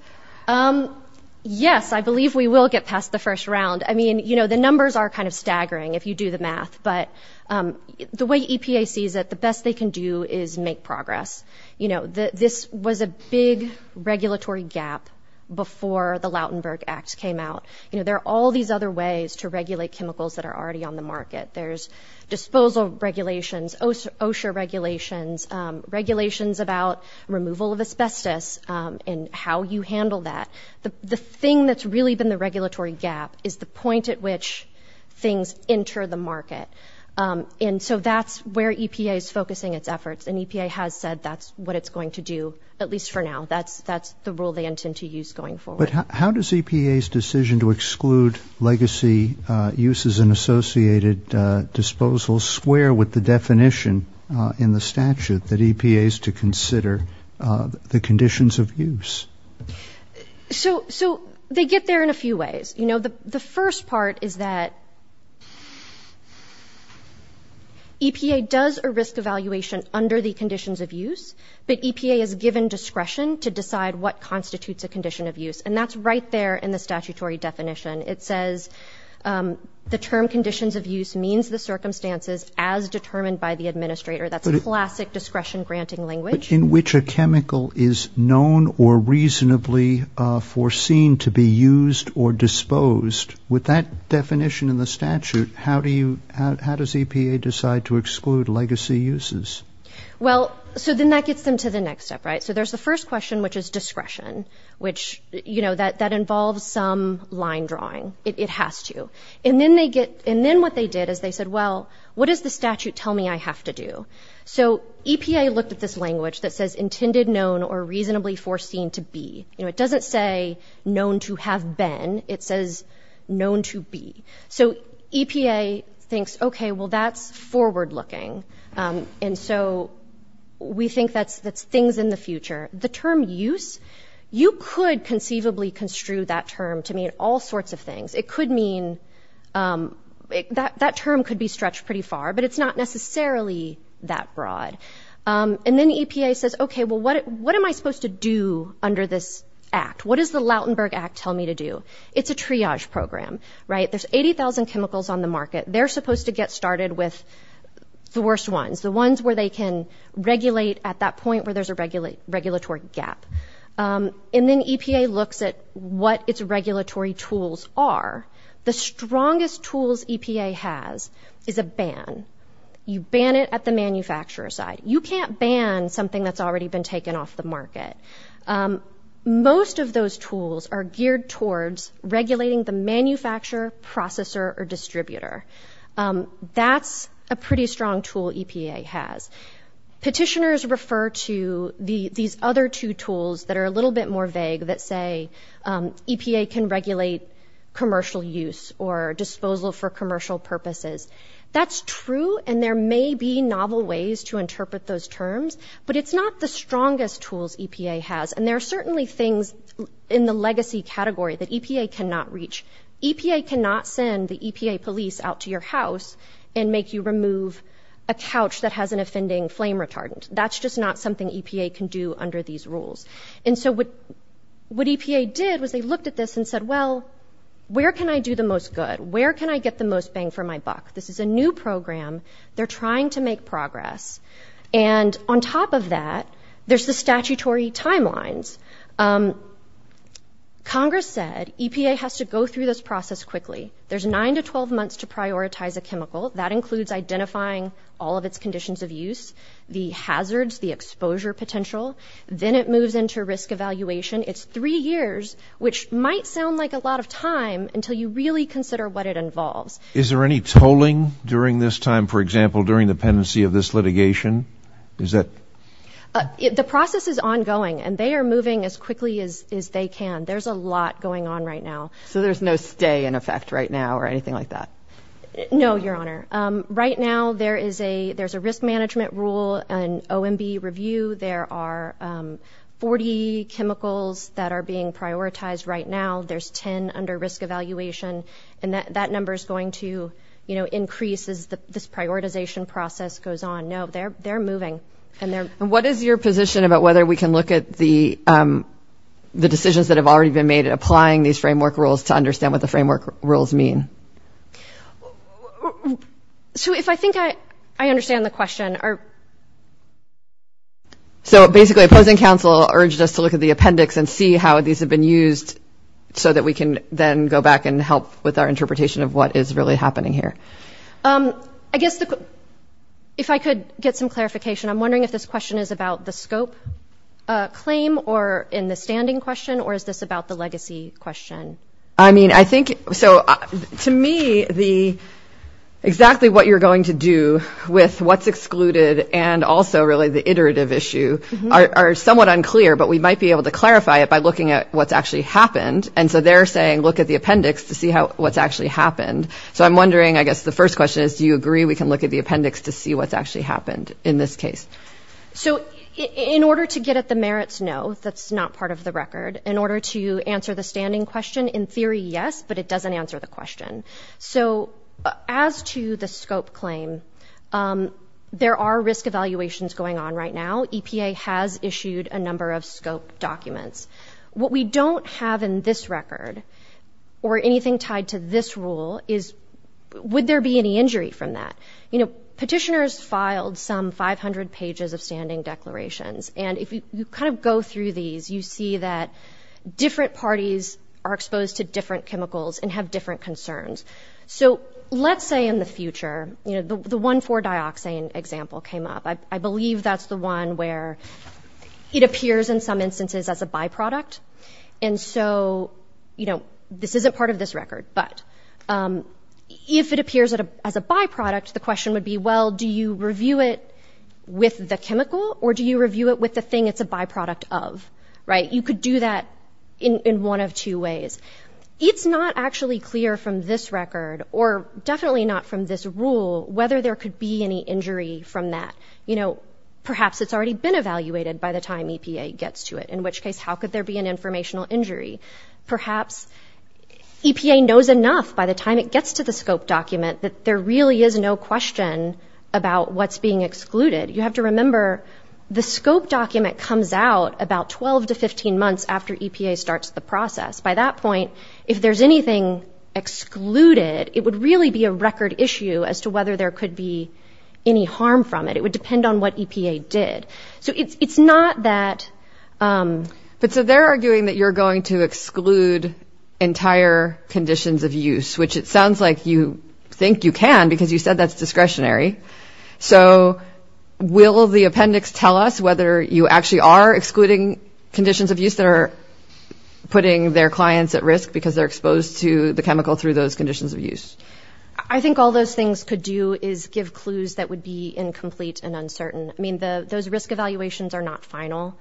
Yes, I believe we will get past the first round. I mean, you know, the numbers are kind of staggering, if you do the math, but the way EPA sees it, the best they can do is make progress. You know, this was a big regulatory gap before the Lautenberg Act came out. You know, there are all these other ways to regulate chemicals that are already on the market. There's disposal regulations, OSHA regulations, regulations about removal of asbestos and how you handle that. The thing that's really been the regulatory gap is the point at which things enter the market. And so that's where EPA is focusing its efforts, and EPA has said that's what it's going to do, at least for now. That's the rule they intend to use going forward. But how does EPA's decision to exclude legacy uses and associated disposals square with the definition in the statute that EPA is to consider the conditions of use? So they get there in a few ways. You know, the first part is that EPA does a risk evaluation under the conditions of use, but EPA is given discretion to decide what constitutes a condition of use, and that's right there in the statutory definition. It says the term conditions of use means the circumstances as determined by the administrator. That's a classic discretion-granting language. But in which a chemical is known or reasonably foreseen to be used or disposed, with that definition in the statute, how does EPA decide to exclude legacy uses? Well, so then that gets them to the next step, right? So there's the first question, which is discretion, which, you know, that involves some line drawing. It has to. And then what they did is they said, well, what does the statute tell me I have to do? So EPA looked at this language that says intended, known, or reasonably foreseen to be. You know, it doesn't say known to have been. It says known to be. So EPA thinks, okay, well, that's forward-looking. And so we think that's things in the future. The term use, you could conceivably construe that term to mean all sorts of things. That term could be stretched pretty far, but it's not necessarily that broad. And then EPA says, okay, well, what am I supposed to do under this act? What does the Lautenberg Act tell me to do? It's a triage program, right? There's 80,000 chemicals on the market. They're supposed to get started with the worst ones, the ones where they can regulate at that point where there's a regulatory gap. And then EPA looks at what its regulatory tools are. The strongest tools EPA has is a ban. You ban it at the manufacturer side. You can't ban something that's already been taken off the market. Most of those tools are geared towards regulating the manufacturer, processor, or distributor. That's a pretty strong tool EPA has. Petitioners refer to these other two tools that are a little bit more vague that say, EPA can regulate commercial use or disposal for commercial purposes. That's true, and there may be novel ways to interpret those terms, but it's not the strongest tools EPA has. And there are certainly things in the legacy category that EPA cannot reach. EPA cannot send the EPA police out to your house and make you remove a couch that has an offending flame retardant. That's just not something EPA can do under these rules. And so what EPA did was they looked at this and said, well, where can I do the most good? Where can I get the most bang for my buck? This is a new program. They're trying to make progress. And on top of that, there's the statutory timelines. Congress said EPA has to go through this process quickly. There's nine to 12 months to prioritize a chemical. That includes identifying all of its conditions of use, the hazards, the exposure potential. Then it moves into risk evaluation. It's three years, which might sound like a lot of time until you really consider what it involves. Is there any tolling during this time, for example, during the pendency of this litigation? The process is ongoing, and they are moving as quickly as they can. There's a lot going on right now. So there's no stay in effect right now or anything like that? No, Your Honor. Right now there's a risk management rule, an OMB review. There are 40 chemicals that are being prioritized right now. There's 10 under risk evaluation. And that number is going to increase as this prioritization process goes on. No, they're moving. And what is your position about whether we can look at the decisions that have already been made in applying these framework rules to understand what the framework rules mean? So basically opposing counsel urged us to look at the appendix and see how these have been used so that we can then go back and help with our interpretation of what is really happening here. Just to get some clarification, I'm wondering if this question is about the scope claim in the standing question, or is this about the legacy question? To me, exactly what you're going to do with what's excluded and also really the iterative issue are somewhat unclear, but we might be able to clarify it by looking at what's actually happened. And so they're saying look at the appendix to see what's actually happened. So I'm wondering, I guess the first question is, do you agree we can look at the appendix to see what's actually happened in this case? So in order to get at the merits, no, that's not part of the record. In order to answer the standing question, in theory, yes, but it doesn't answer the question. So as to the scope claim, there are risk evaluations going on right now. EPA has issued a number of scope documents. What we don't have in this record, or anything tied to this rule, is would there be any injury from that? Petitioners filed some 500 pages of standing declarations, and if you kind of go through these, you see that different parties are exposed to different chemicals and have different concerns. So let's say in the future, the 1,4-dioxane example came up. I believe that's the one where it appears in some instances as a byproduct. And so this isn't part of this record, but if it appears as a byproduct, the question would be, well, do you review it with the chemical, or do you review it with the thing it's a byproduct of? You could do that in one of two ways. It's not actually clear from this record, or definitely not from this rule, whether there could be any injury from that. Perhaps it's already been evaluated by the time EPA gets to it, in which case how could there be an informational injury? Perhaps EPA knows enough by the time it gets to the scope document that there really is no question about what's being excluded. You have to remember, the scope document comes out about 12 to 15 months after EPA starts the process. At this point, if there's anything excluded, it would really be a record issue as to whether there could be any harm from it. It would depend on what EPA did. So it's not that... But so they're arguing that you're going to exclude entire conditions of use, which it sounds like you think you can, because you said that's discretionary. So will the appendix tell us whether you actually are excluding conditions of use that are putting their clients at risk because they're exposed to the chemical through those conditions of use? I think all those things could do is give clues that would be incomplete and uncertain. I mean, those risk evaluations are not final.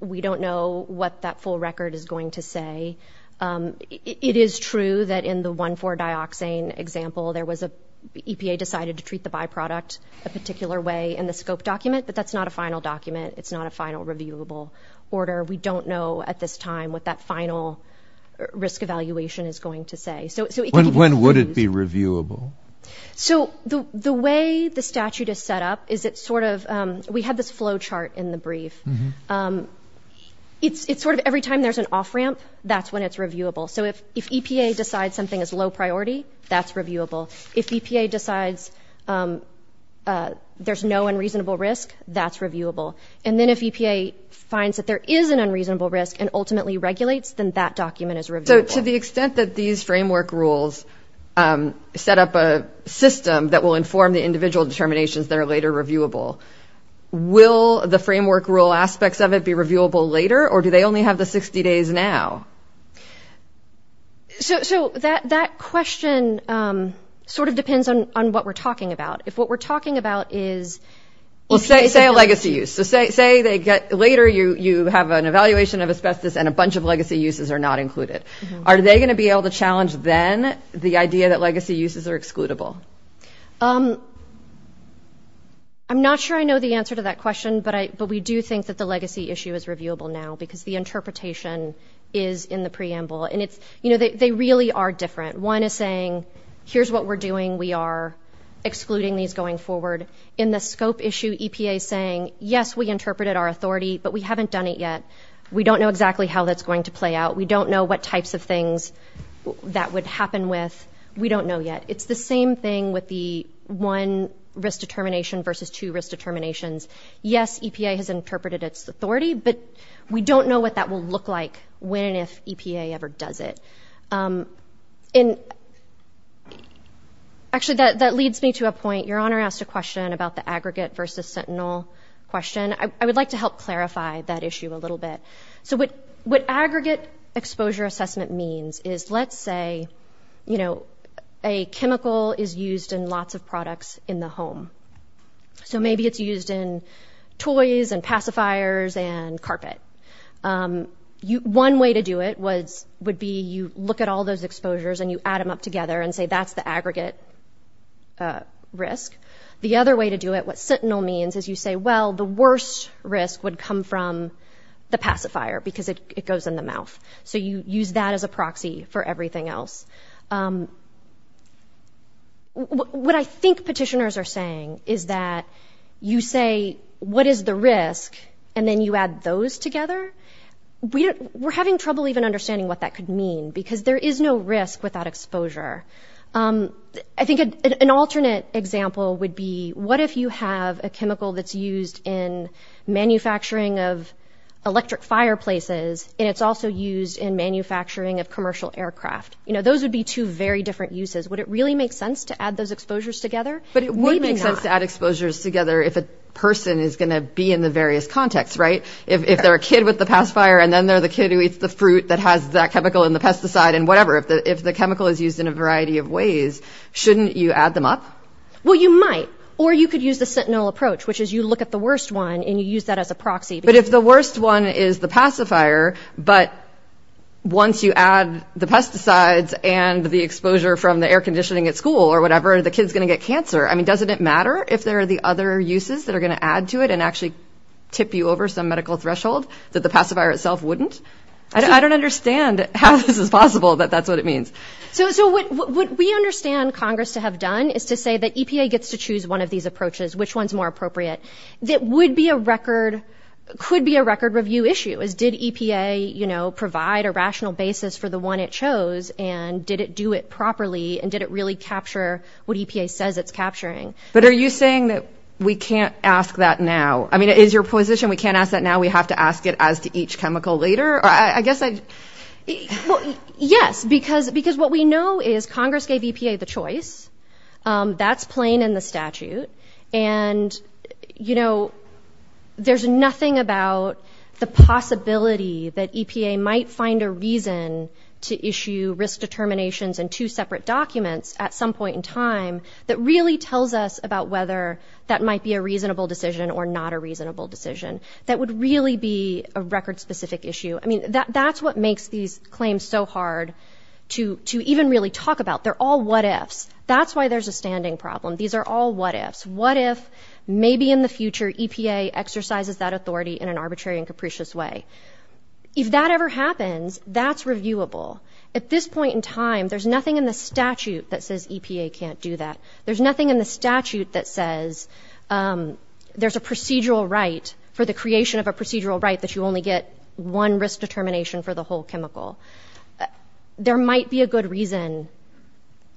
We don't know what that full record is going to say. It is true that in the 1,4-dioxane example, EPA decided to treat the byproduct a particular way in the scope document. But that's not a final document. It's not a final reviewable order. We don't know at this time what that final risk evaluation is going to say. When would it be reviewable? So the way the statute is set up is it's sort of... We had this flow chart in the brief. It's sort of every time there's an off-ramp, that's when it's reviewable. So if EPA decides something is low priority, that's reviewable. If EPA decides there's no unreasonable risk, that's reviewable. And then if EPA finds that there is an unreasonable risk and ultimately regulates, then that document is reviewable. So to the extent that these framework rules set up a system that will inform the individual determinations that are later reviewable, will the framework rule aspects of it be reviewable later, or do they only have the 60 days now? So that question sort of depends on what we're talking about. If what we're talking about is... Say later you have an evaluation of asbestos and a bunch of legacy uses are not included. Are they going to be able to challenge then the idea that legacy uses are excludable? I'm not sure I know the answer to that question, but we do think that the legacy issue is reviewable now because the interpretation is in the preamble. And they really are different. One is saying, here's what we're doing, we are excluding these going forward. In the scope issue, EPA is saying, yes, we interpreted our authority, but we haven't done it yet. We don't know exactly how that's going to play out. We don't know what types of things that would happen with. We don't know yet. It's the same thing with the one risk determination versus two risk determinations. Yes, EPA has interpreted its authority, but we don't know what that will look like when and if EPA ever does it. Actually, that leads me to a point. Your Honor asked a question about the aggregate versus sentinel question. I would like to help clarify that issue a little bit. What aggregate exposure assessment means is, let's say, a chemical is used in lots of products in the home. Maybe it's used in toys and pacifiers and carpet. One way to do it would be you look at all those exposures and you add them up together and say that's the aggregate risk. The other way to do it, what sentinel means, is you say, well, the worst risk would come from the pacifier, because it goes in the mouth. So you use that as a proxy for everything else. What I think petitioners are saying is that you say, what is the risk, and then you add those together. We're having trouble even understanding what that could mean, because there is no risk without exposure. I think an alternate example would be, what if you have a chemical that's used in manufacturing of electric fireplaces, and it's also used in manufacturing of commercial aircraft? Those would be two very different uses. Would it really make sense to add those exposures together? Maybe not. You don't have to add exposures together if a person is going to be in the various contexts, right? If they're a kid with the pacifier and then they're the kid who eats the fruit that has that chemical in the pesticide and whatever, if the chemical is used in a variety of ways, shouldn't you add them up? Well, you might, or you could use the sentinel approach, which is you look at the worst one and you use that as a proxy. But if the worst one is the pacifier, but once you add the pesticides and the exposure from the air conditioning at school or whatever, the kid's going to get cancer. I mean, doesn't it matter if there are the other uses that are going to add to it and actually tip you over some medical threshold that the pacifier itself wouldn't? I don't understand how this is possible that that's what it means. So what we understand Congress to have done is to say that EPA gets to choose one of these approaches, which one's more appropriate. That would be a record, could be a record review issue is did EPA, you know, provide a rational basis for the one it chose and did it do it properly? And did it really capture what EPA says it's capturing? But are you saying that we can't ask that now? I mean, it is your position. We can't ask that now. We have to ask it as to each chemical later. I guess I guess because because what we know is Congress gave EPA the choice. That's plain in the statute. And, you know, there's nothing about the possibility that EPA might find a reason to issue risk determinations and two separate documents at some point in time that really tells us about whether that might be a reasonable decision or not a reasonable decision that would really be a record specific issue. I mean, that's what makes these claims so hard to to even really talk about. They're all what ifs. That's why there's a standing problem. These are all what ifs. What if maybe in the future EPA exercises that authority in an arbitrary and capricious way. If that ever happens, that's reviewable. At this point in time, there's nothing in the statute that says EPA can't do that. There's nothing in the statute that says there's a procedural right for the creation of a procedural right that you only get one risk determination for the whole chemical. There might be a good reason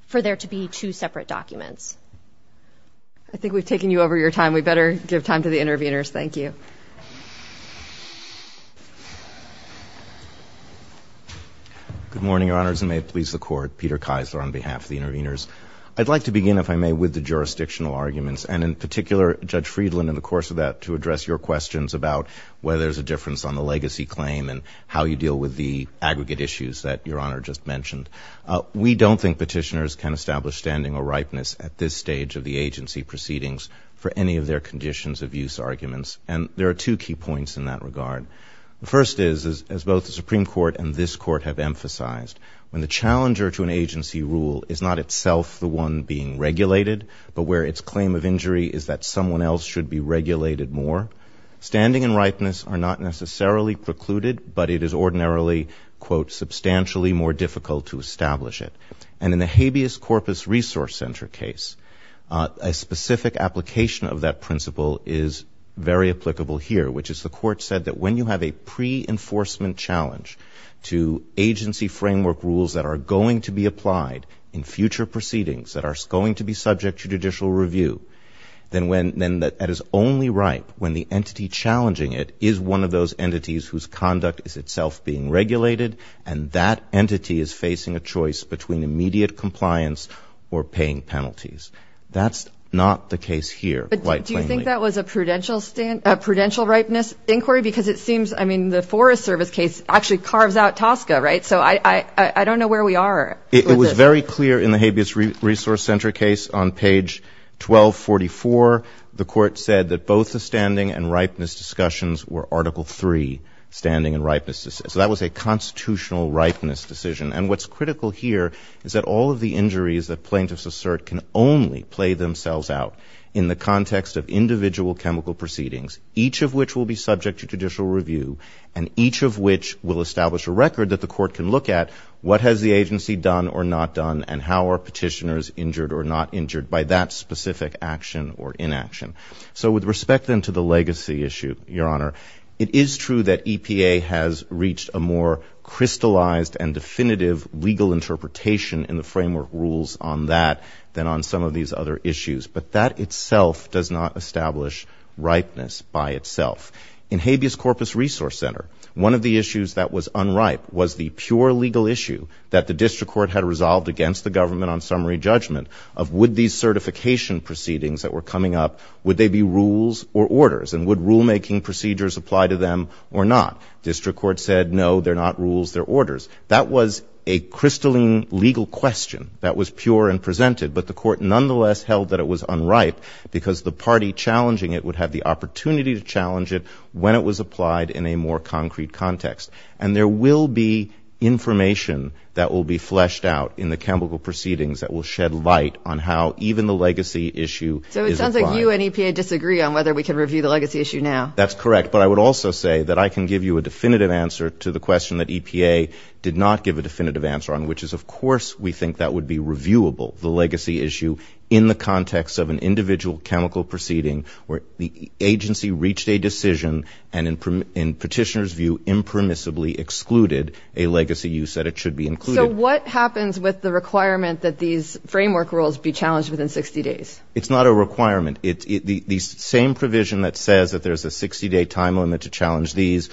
for there to be two separate documents. I think we've taken you over your time. We better give time to the interveners. Thank you. Good morning, Your Honors. And may it please the Court. Peter Kisler on behalf of the interveners. I'd like to begin, if I may, with the jurisdictional arguments and in particular, Judge Friedland, in the course of that, to address your questions about whether there's a difference on the legacy claim and how you deal with the aggregate issues that Your Honor just mentioned. We don't think petitioners can establish standing or ripeness at this stage of the agency proceedings for any of their conditions of use arguments. And there are two key points in that regard. The first is, as both the Supreme Court and this Court have emphasized, when the challenger to an agency rule is not itself the one being regulated, but where its claim of injury is that someone else should be regulated more, standing and ripeness are not necessarily precluded, but it is ordinarily, quote, substantially more difficult to establish it. And in the habeas corpus resource center case, a specific application of that principle is very applicable here, which is the Court said that when you have a pre-enforcement challenge to agency framework rules that are going to be applied in future proceedings, that are going to be subject to judicial review, then that is only right when the entity challenging it is one of those entities whose conduct is itself being regulated and that entity is facing a choice between immediate compliance or paying penalties. That's not the case here, quite plainly. But do you think that was a prudential ripeness inquiry? Because it seems, I mean, the Forest Service case actually carves out Tosca, right? So I don't know where we are with this. It was very clear in the habeas resource center case on page 1244. The Court said that both the standing and ripeness discussions were article three, standing and ripeness. So that was a constitutional ripeness decision. And what's critical here is that all of the injuries that plaintiffs assert can only play themselves out in the context of individual chemical proceedings, each of which will be subject to judicial review, and each of which will establish a record that the Court can look at what has the agency done or not done and how are petitioners injured or not injured by that specific action or inaction. So with respect then to the legacy issue, Your Honor, it is true that EPA has reached a more crystallized and definitive legal interpretation in the framework rules on that than on some of these other issues. But that itself does not establish ripeness by itself. In habeas corpus resource center, one of the issues that was unripe was the pure legal issue that the district court had resolved against the government on summary judgment of would these certification proceedings that were coming up, would they be rules or orders, and would rulemaking procedures apply to them or not. District court said, no, they're not rules, they're orders. That was a crystalline legal question that was pure and presented, but the court nonetheless held that it was unripe because the party challenging it would have the opportunity to challenge it when it was applied in a more concrete context. And there will be information that will be fleshed out in the chemical proceedings that will shed light on how even the legacy issue is applied. So it sounds like you and EPA disagree on whether we can review the legacy issue now. That's correct. But I would also say that I can give you a definitive answer to the question that EPA did not give a definitive answer on, which is, of course, we think that would be reviewable, the legacy issue, in the context of an impermissibly excluded a legacy use that it should be included. So what happens with the requirement that these framework rules be challenged within 60 days? It's not a requirement. The same provision that says that there's a 60-day time limit to challenge these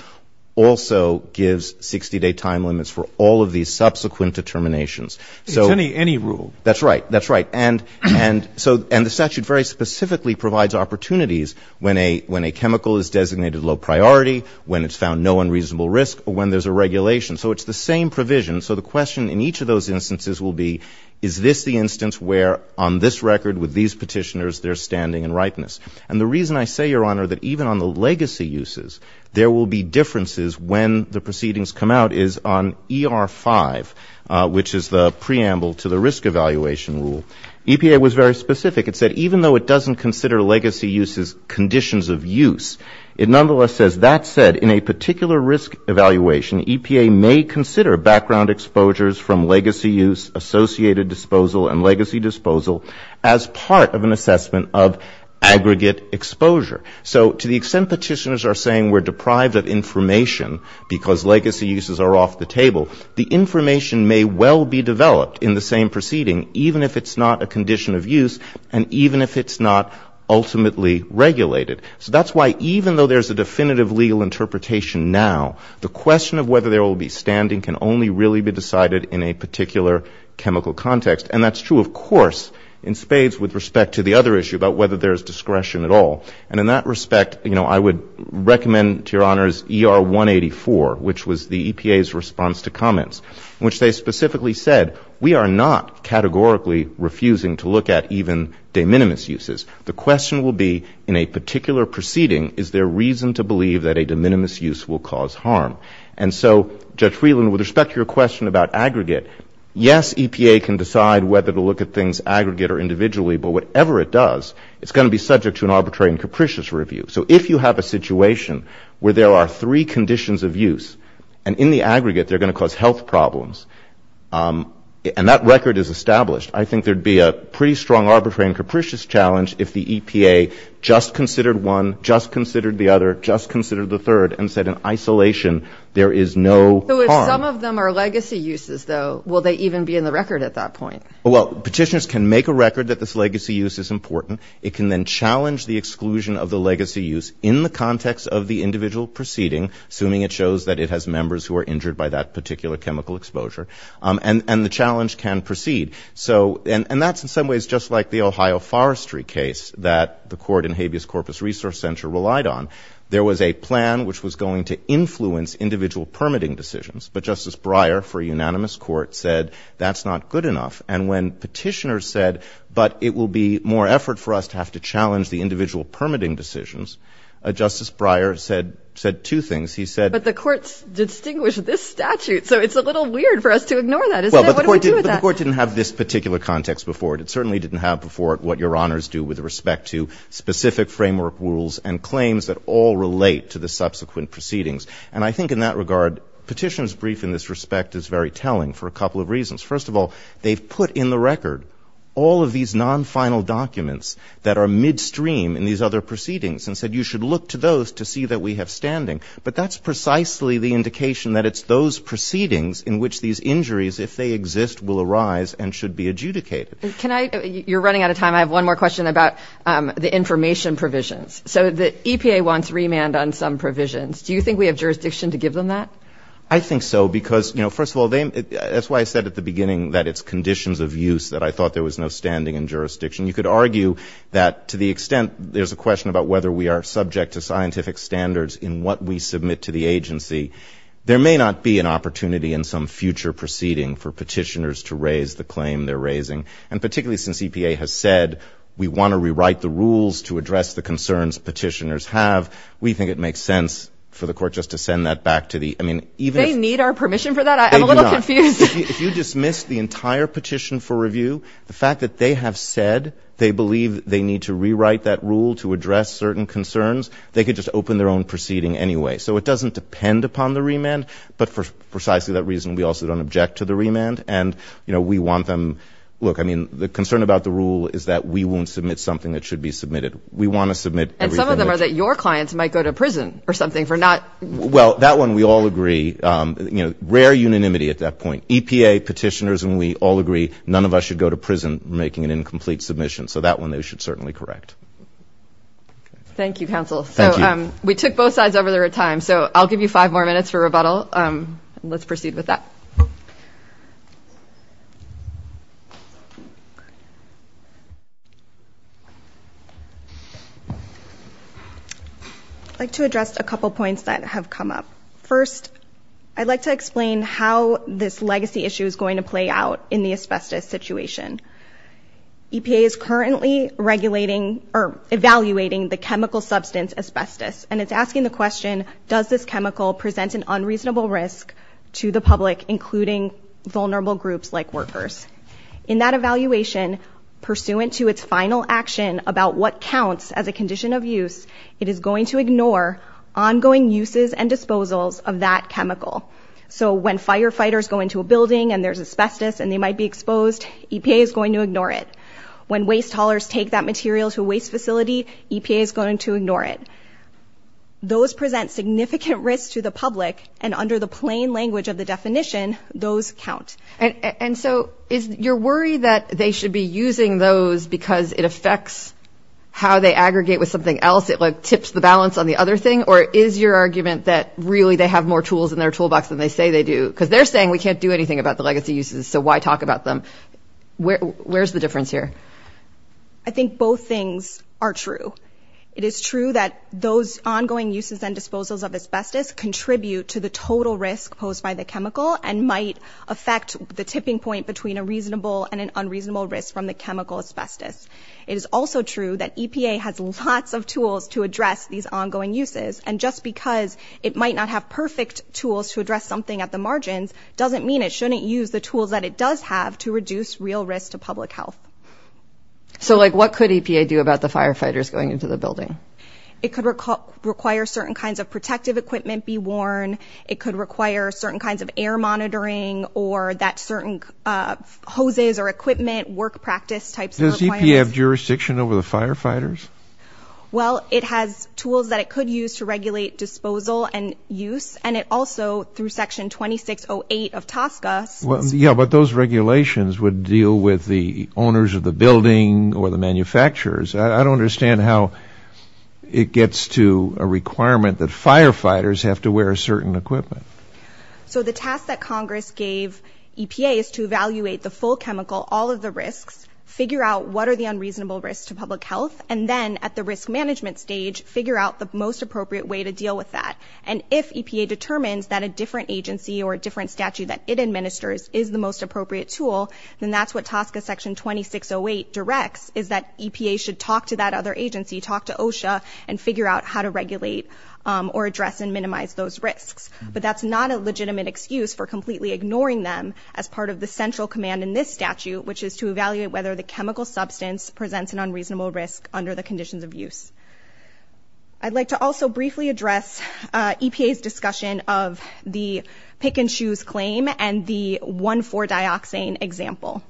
also gives 60-day time limits for all of these subsequent determinations. It's any rule. That's right. That's right. And the statute very specifically provides opportunities when a chemical is designated low priority, when it's found no unreasonable risk, or when there's a regulation. So it's the same provision. So the question in each of those instances will be, is this the instance where on this record with these petitioners there's standing and ripeness? And the reason I say, Your Honor, that even on the legacy uses there will be differences when the proceedings come out is on ER5, which is the preamble to the risk evaluation. EPA was very specific. It said even though it doesn't consider legacy uses conditions of use, it nonetheless says that said, in a particular risk evaluation, EPA may consider background exposures from legacy use, associated disposal, and legacy disposal as part of an assessment of aggregate exposure. So to the extent petitioners are saying we're deprived of information because legacy uses are off the table, the question of whether there will be standing can only really be decided in a particular chemical context. And that's true, of course, in spades with respect to the other issue about whether there's discretion at all. And in that respect, you know, I would recommend to Your Honor's ER184, which was the EPA's response to comments, which they specifically said we are not categorizing legacy uses as part of an assessment of aggregate exposure. We are categorically refusing to look at even de minimis uses. The question will be in a particular proceeding, is there reason to believe that a de minimis use will cause harm? And so, Judge Freeland, with respect to your question about aggregate, yes, EPA can decide whether to look at things aggregate or individually, but whatever it does, it's going to be subject to an arbitrary and capricious review. So if you have a situation where there are three conditions of use, and in the aggregate they're going to cause health problems, and that record is established, I think there'd be a pretty strong arbitrary and capricious challenge if the EPA just considered one, just considered the other, just considered the third, and said in isolation there is no harm. So if some of them are legacy uses, though, will they even be in the record at that point? Well, petitioners can make a record that this legacy use is important. It can then challenge the exclusion of the legacy use in the context of the individual proceeding, assuming it shows that it were injured by that particular chemical exposure, and the challenge can proceed. And that's in some ways just like the Ohio forestry case that the court in Habeas Corpus Resource Center relied on. There was a plan which was going to influence individual permitting decisions, but Justice Breyer, for a unanimous court, said that's not good enough, and when petitioners said, but it will be more effort for us to have to challenge the individual permitting decisions, Justice Breyer said two things. He said — But the courts distinguish this statute, so it's a little weird for us to ignore that, isn't it? What do we do with that? Well, but the court didn't have this particular context before it. It certainly didn't have before it what your honors do with respect to specific framework rules and claims that all relate to the individual. And that's precisely the indication that it's those proceedings in which these injuries, if they exist, will arise and should be adjudicated. Can I — you're running out of time. I have one more question about the information provisions. So the EPA wants remand on some provisions. Do you think we have jurisdiction to give them that? I think so, because, you know, first of all, that's why I said at the beginning that it's conditions of use that I thought there was no standing in jurisdiction. You could argue that to the extent there's a question about whether we are subject to scientific standards in what we submit to the I think that's what the concerns petitioners have. We think it makes sense for the court just to send that back to the — They need our permission for that? I'm a little confused. If you dismiss the entire petition for review, the fact that they have said they believe they need to rewrite that rule to address certain concerns, they could just open their own proceeding anyway. So it doesn't depend upon the remand, but for precisely that reason, we also don't object to the remand. And, you know, we want them — look, I mean, the concern about the rule is that we won't submit something that should be submitted. We want to submit — Well, that one we all agree. Rare unanimity at that point. EPA, petitioners, and we all agree none of us should go to prison for making an incomplete submission. So that one they should certainly correct. Thank you, counsel. I'd like to address a couple points that have come up. First, I'd like to explain how this legacy issue is going to play out in the asbestos situation. EPA is currently regulating — or evaluating the chemical substance asbestos, and it's asking the question, does this chemical present an unreasonable risk to the public, including vulnerable groups like workers? In that evaluation, pursuant to its final action about what counts as a condition of use, it is going to ignore ongoing uses and disposals of that chemical. So when firefighters go into a building and there's asbestos and they might be exposed, EPA is going to ignore it. When waste haulers take that material to a waste facility, EPA is going to ignore it. Those present significant risk to the public, and under the plain language of the definition, those count. And so you're worried that they should be using those because it affects how they aggregate with something else, it tips the balance on the other thing? Or is your argument that really they have more tools in their toolbox than they say they do? Because they're saying we can't do anything about the legacy uses, so why talk about them? Where's the difference here? I think both things are true. It is true that those ongoing uses and disposals of asbestos contribute to the total risk posed by the chemical and might affect the tipping point between a reasonable and an unreasonable risk from the chemical asbestos. It is also true that EPA has lots of tools to address these ongoing uses, and just because it might not have perfect tools to address something at the margins doesn't mean it shouldn't use the tools that it does have to reduce real risk to public health. So, like, what could EPA do about the firefighters going into the building? It could require certain kinds of protective equipment be worn. It could require certain kinds of air monitoring or that certain hoses or equipment, work practice types of requirements. Does EPA have jurisdiction over the firefighters? Well, it has tools that it could use to regulate disposal and use, and it also, through Section 2608 of TSCA... Yeah, but those regulations would deal with the owners of the building or the manufacturers. I don't understand how it gets to a requirement that firefighters have to wear a certain equipment. So the task that Congress gave EPA is to evaluate the full chemical, all of the risks, figure out what are the unreasonable risks to public health, and then, at the risk management stage, figure out the most appropriate way to deal with that. And if EPA determines that a different agency or a different statute that it administers is the most appropriate tool, then that's what TSCA Section 2608 directs, is that EPA should talk to that other agency, talk to OSHA, and figure out how to regulate or address and minimize those risks. But that's not a legitimate excuse for completely ignoring them as part of the central command in this statute, which is to evaluate whether the chemical substance presents an unreasonable risk under the conditions of use. I'd like to also briefly address EPA's discussion of the pick-and-choose claim and the 1,4-dioxane example.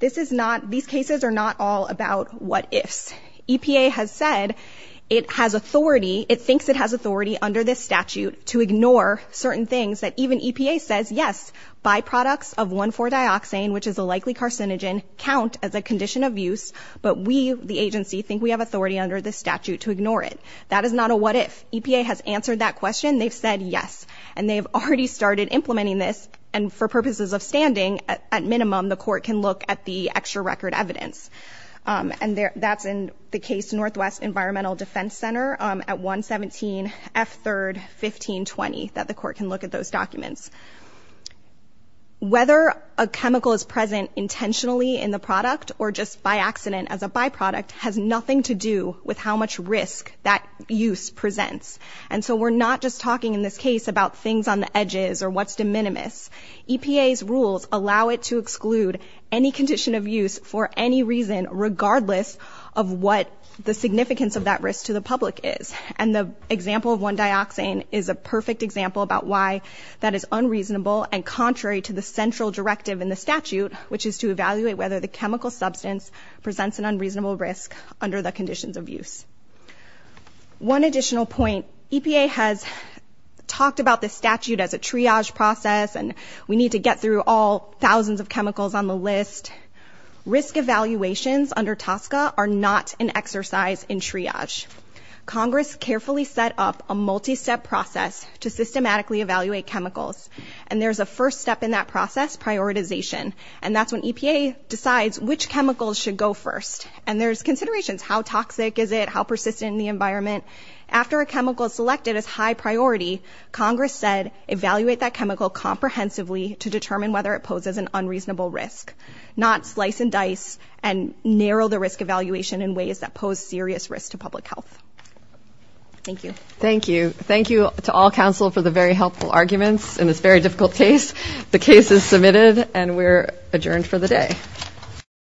These cases are not all about what-ifs. EPA has said it has authority, it thinks it has authority under this statute to ignore certain things that even EPA says, yes, byproducts of 1,4-dioxane, which is a likely carcinogen, count as a condition of use, but we, the agency, think we have authority under this statute to ignore it. That is not a what-if. EPA has answered that question. They've said yes. And they've already started implementing this, and for purposes of standing, at minimum, the court can look at the extra record evidence. And that's in the case Northwest Environmental Defense Center at 117F3-1520, that the court can look at those documents. Whether a chemical is present intentionally in the product or just by accident as a byproduct has nothing to do with how much risk that use presents. And so we're not just talking in this case about things on the edges or what's de minimis. EPA's rules allow it to exclude any condition of use for any reason, regardless of what the significance of that risk to the public is. And the example of 1-dioxane is a perfect example about why that is unreasonable and contrary to the central directive in the statute, which is to evaluate whether the chemical substance presents an unreasonable risk under the conditions of use. One additional point. EPA has talked about the statute as a triage process, and we need to get through all thousands of chemicals on the list. Risk evaluations under TSCA are not an exercise in triage. Congress carefully set up a multi-step process to systematically evaluate chemicals. And there's a first step in that process, prioritization. And that's when EPA decides which chemicals should go first. And there's considerations. How toxic is it? How persistent in the environment? After a chemical is selected as high priority, Congress said, evaluate that chemical comprehensively to determine whether it poses an unreasonable risk, not slice and dice and narrow the risk evaluation in ways that pose serious risk to public health. Thank you. Thank you to all counsel for the very helpful arguments in this very difficult case. The case is submitted and we're adjourned for the day.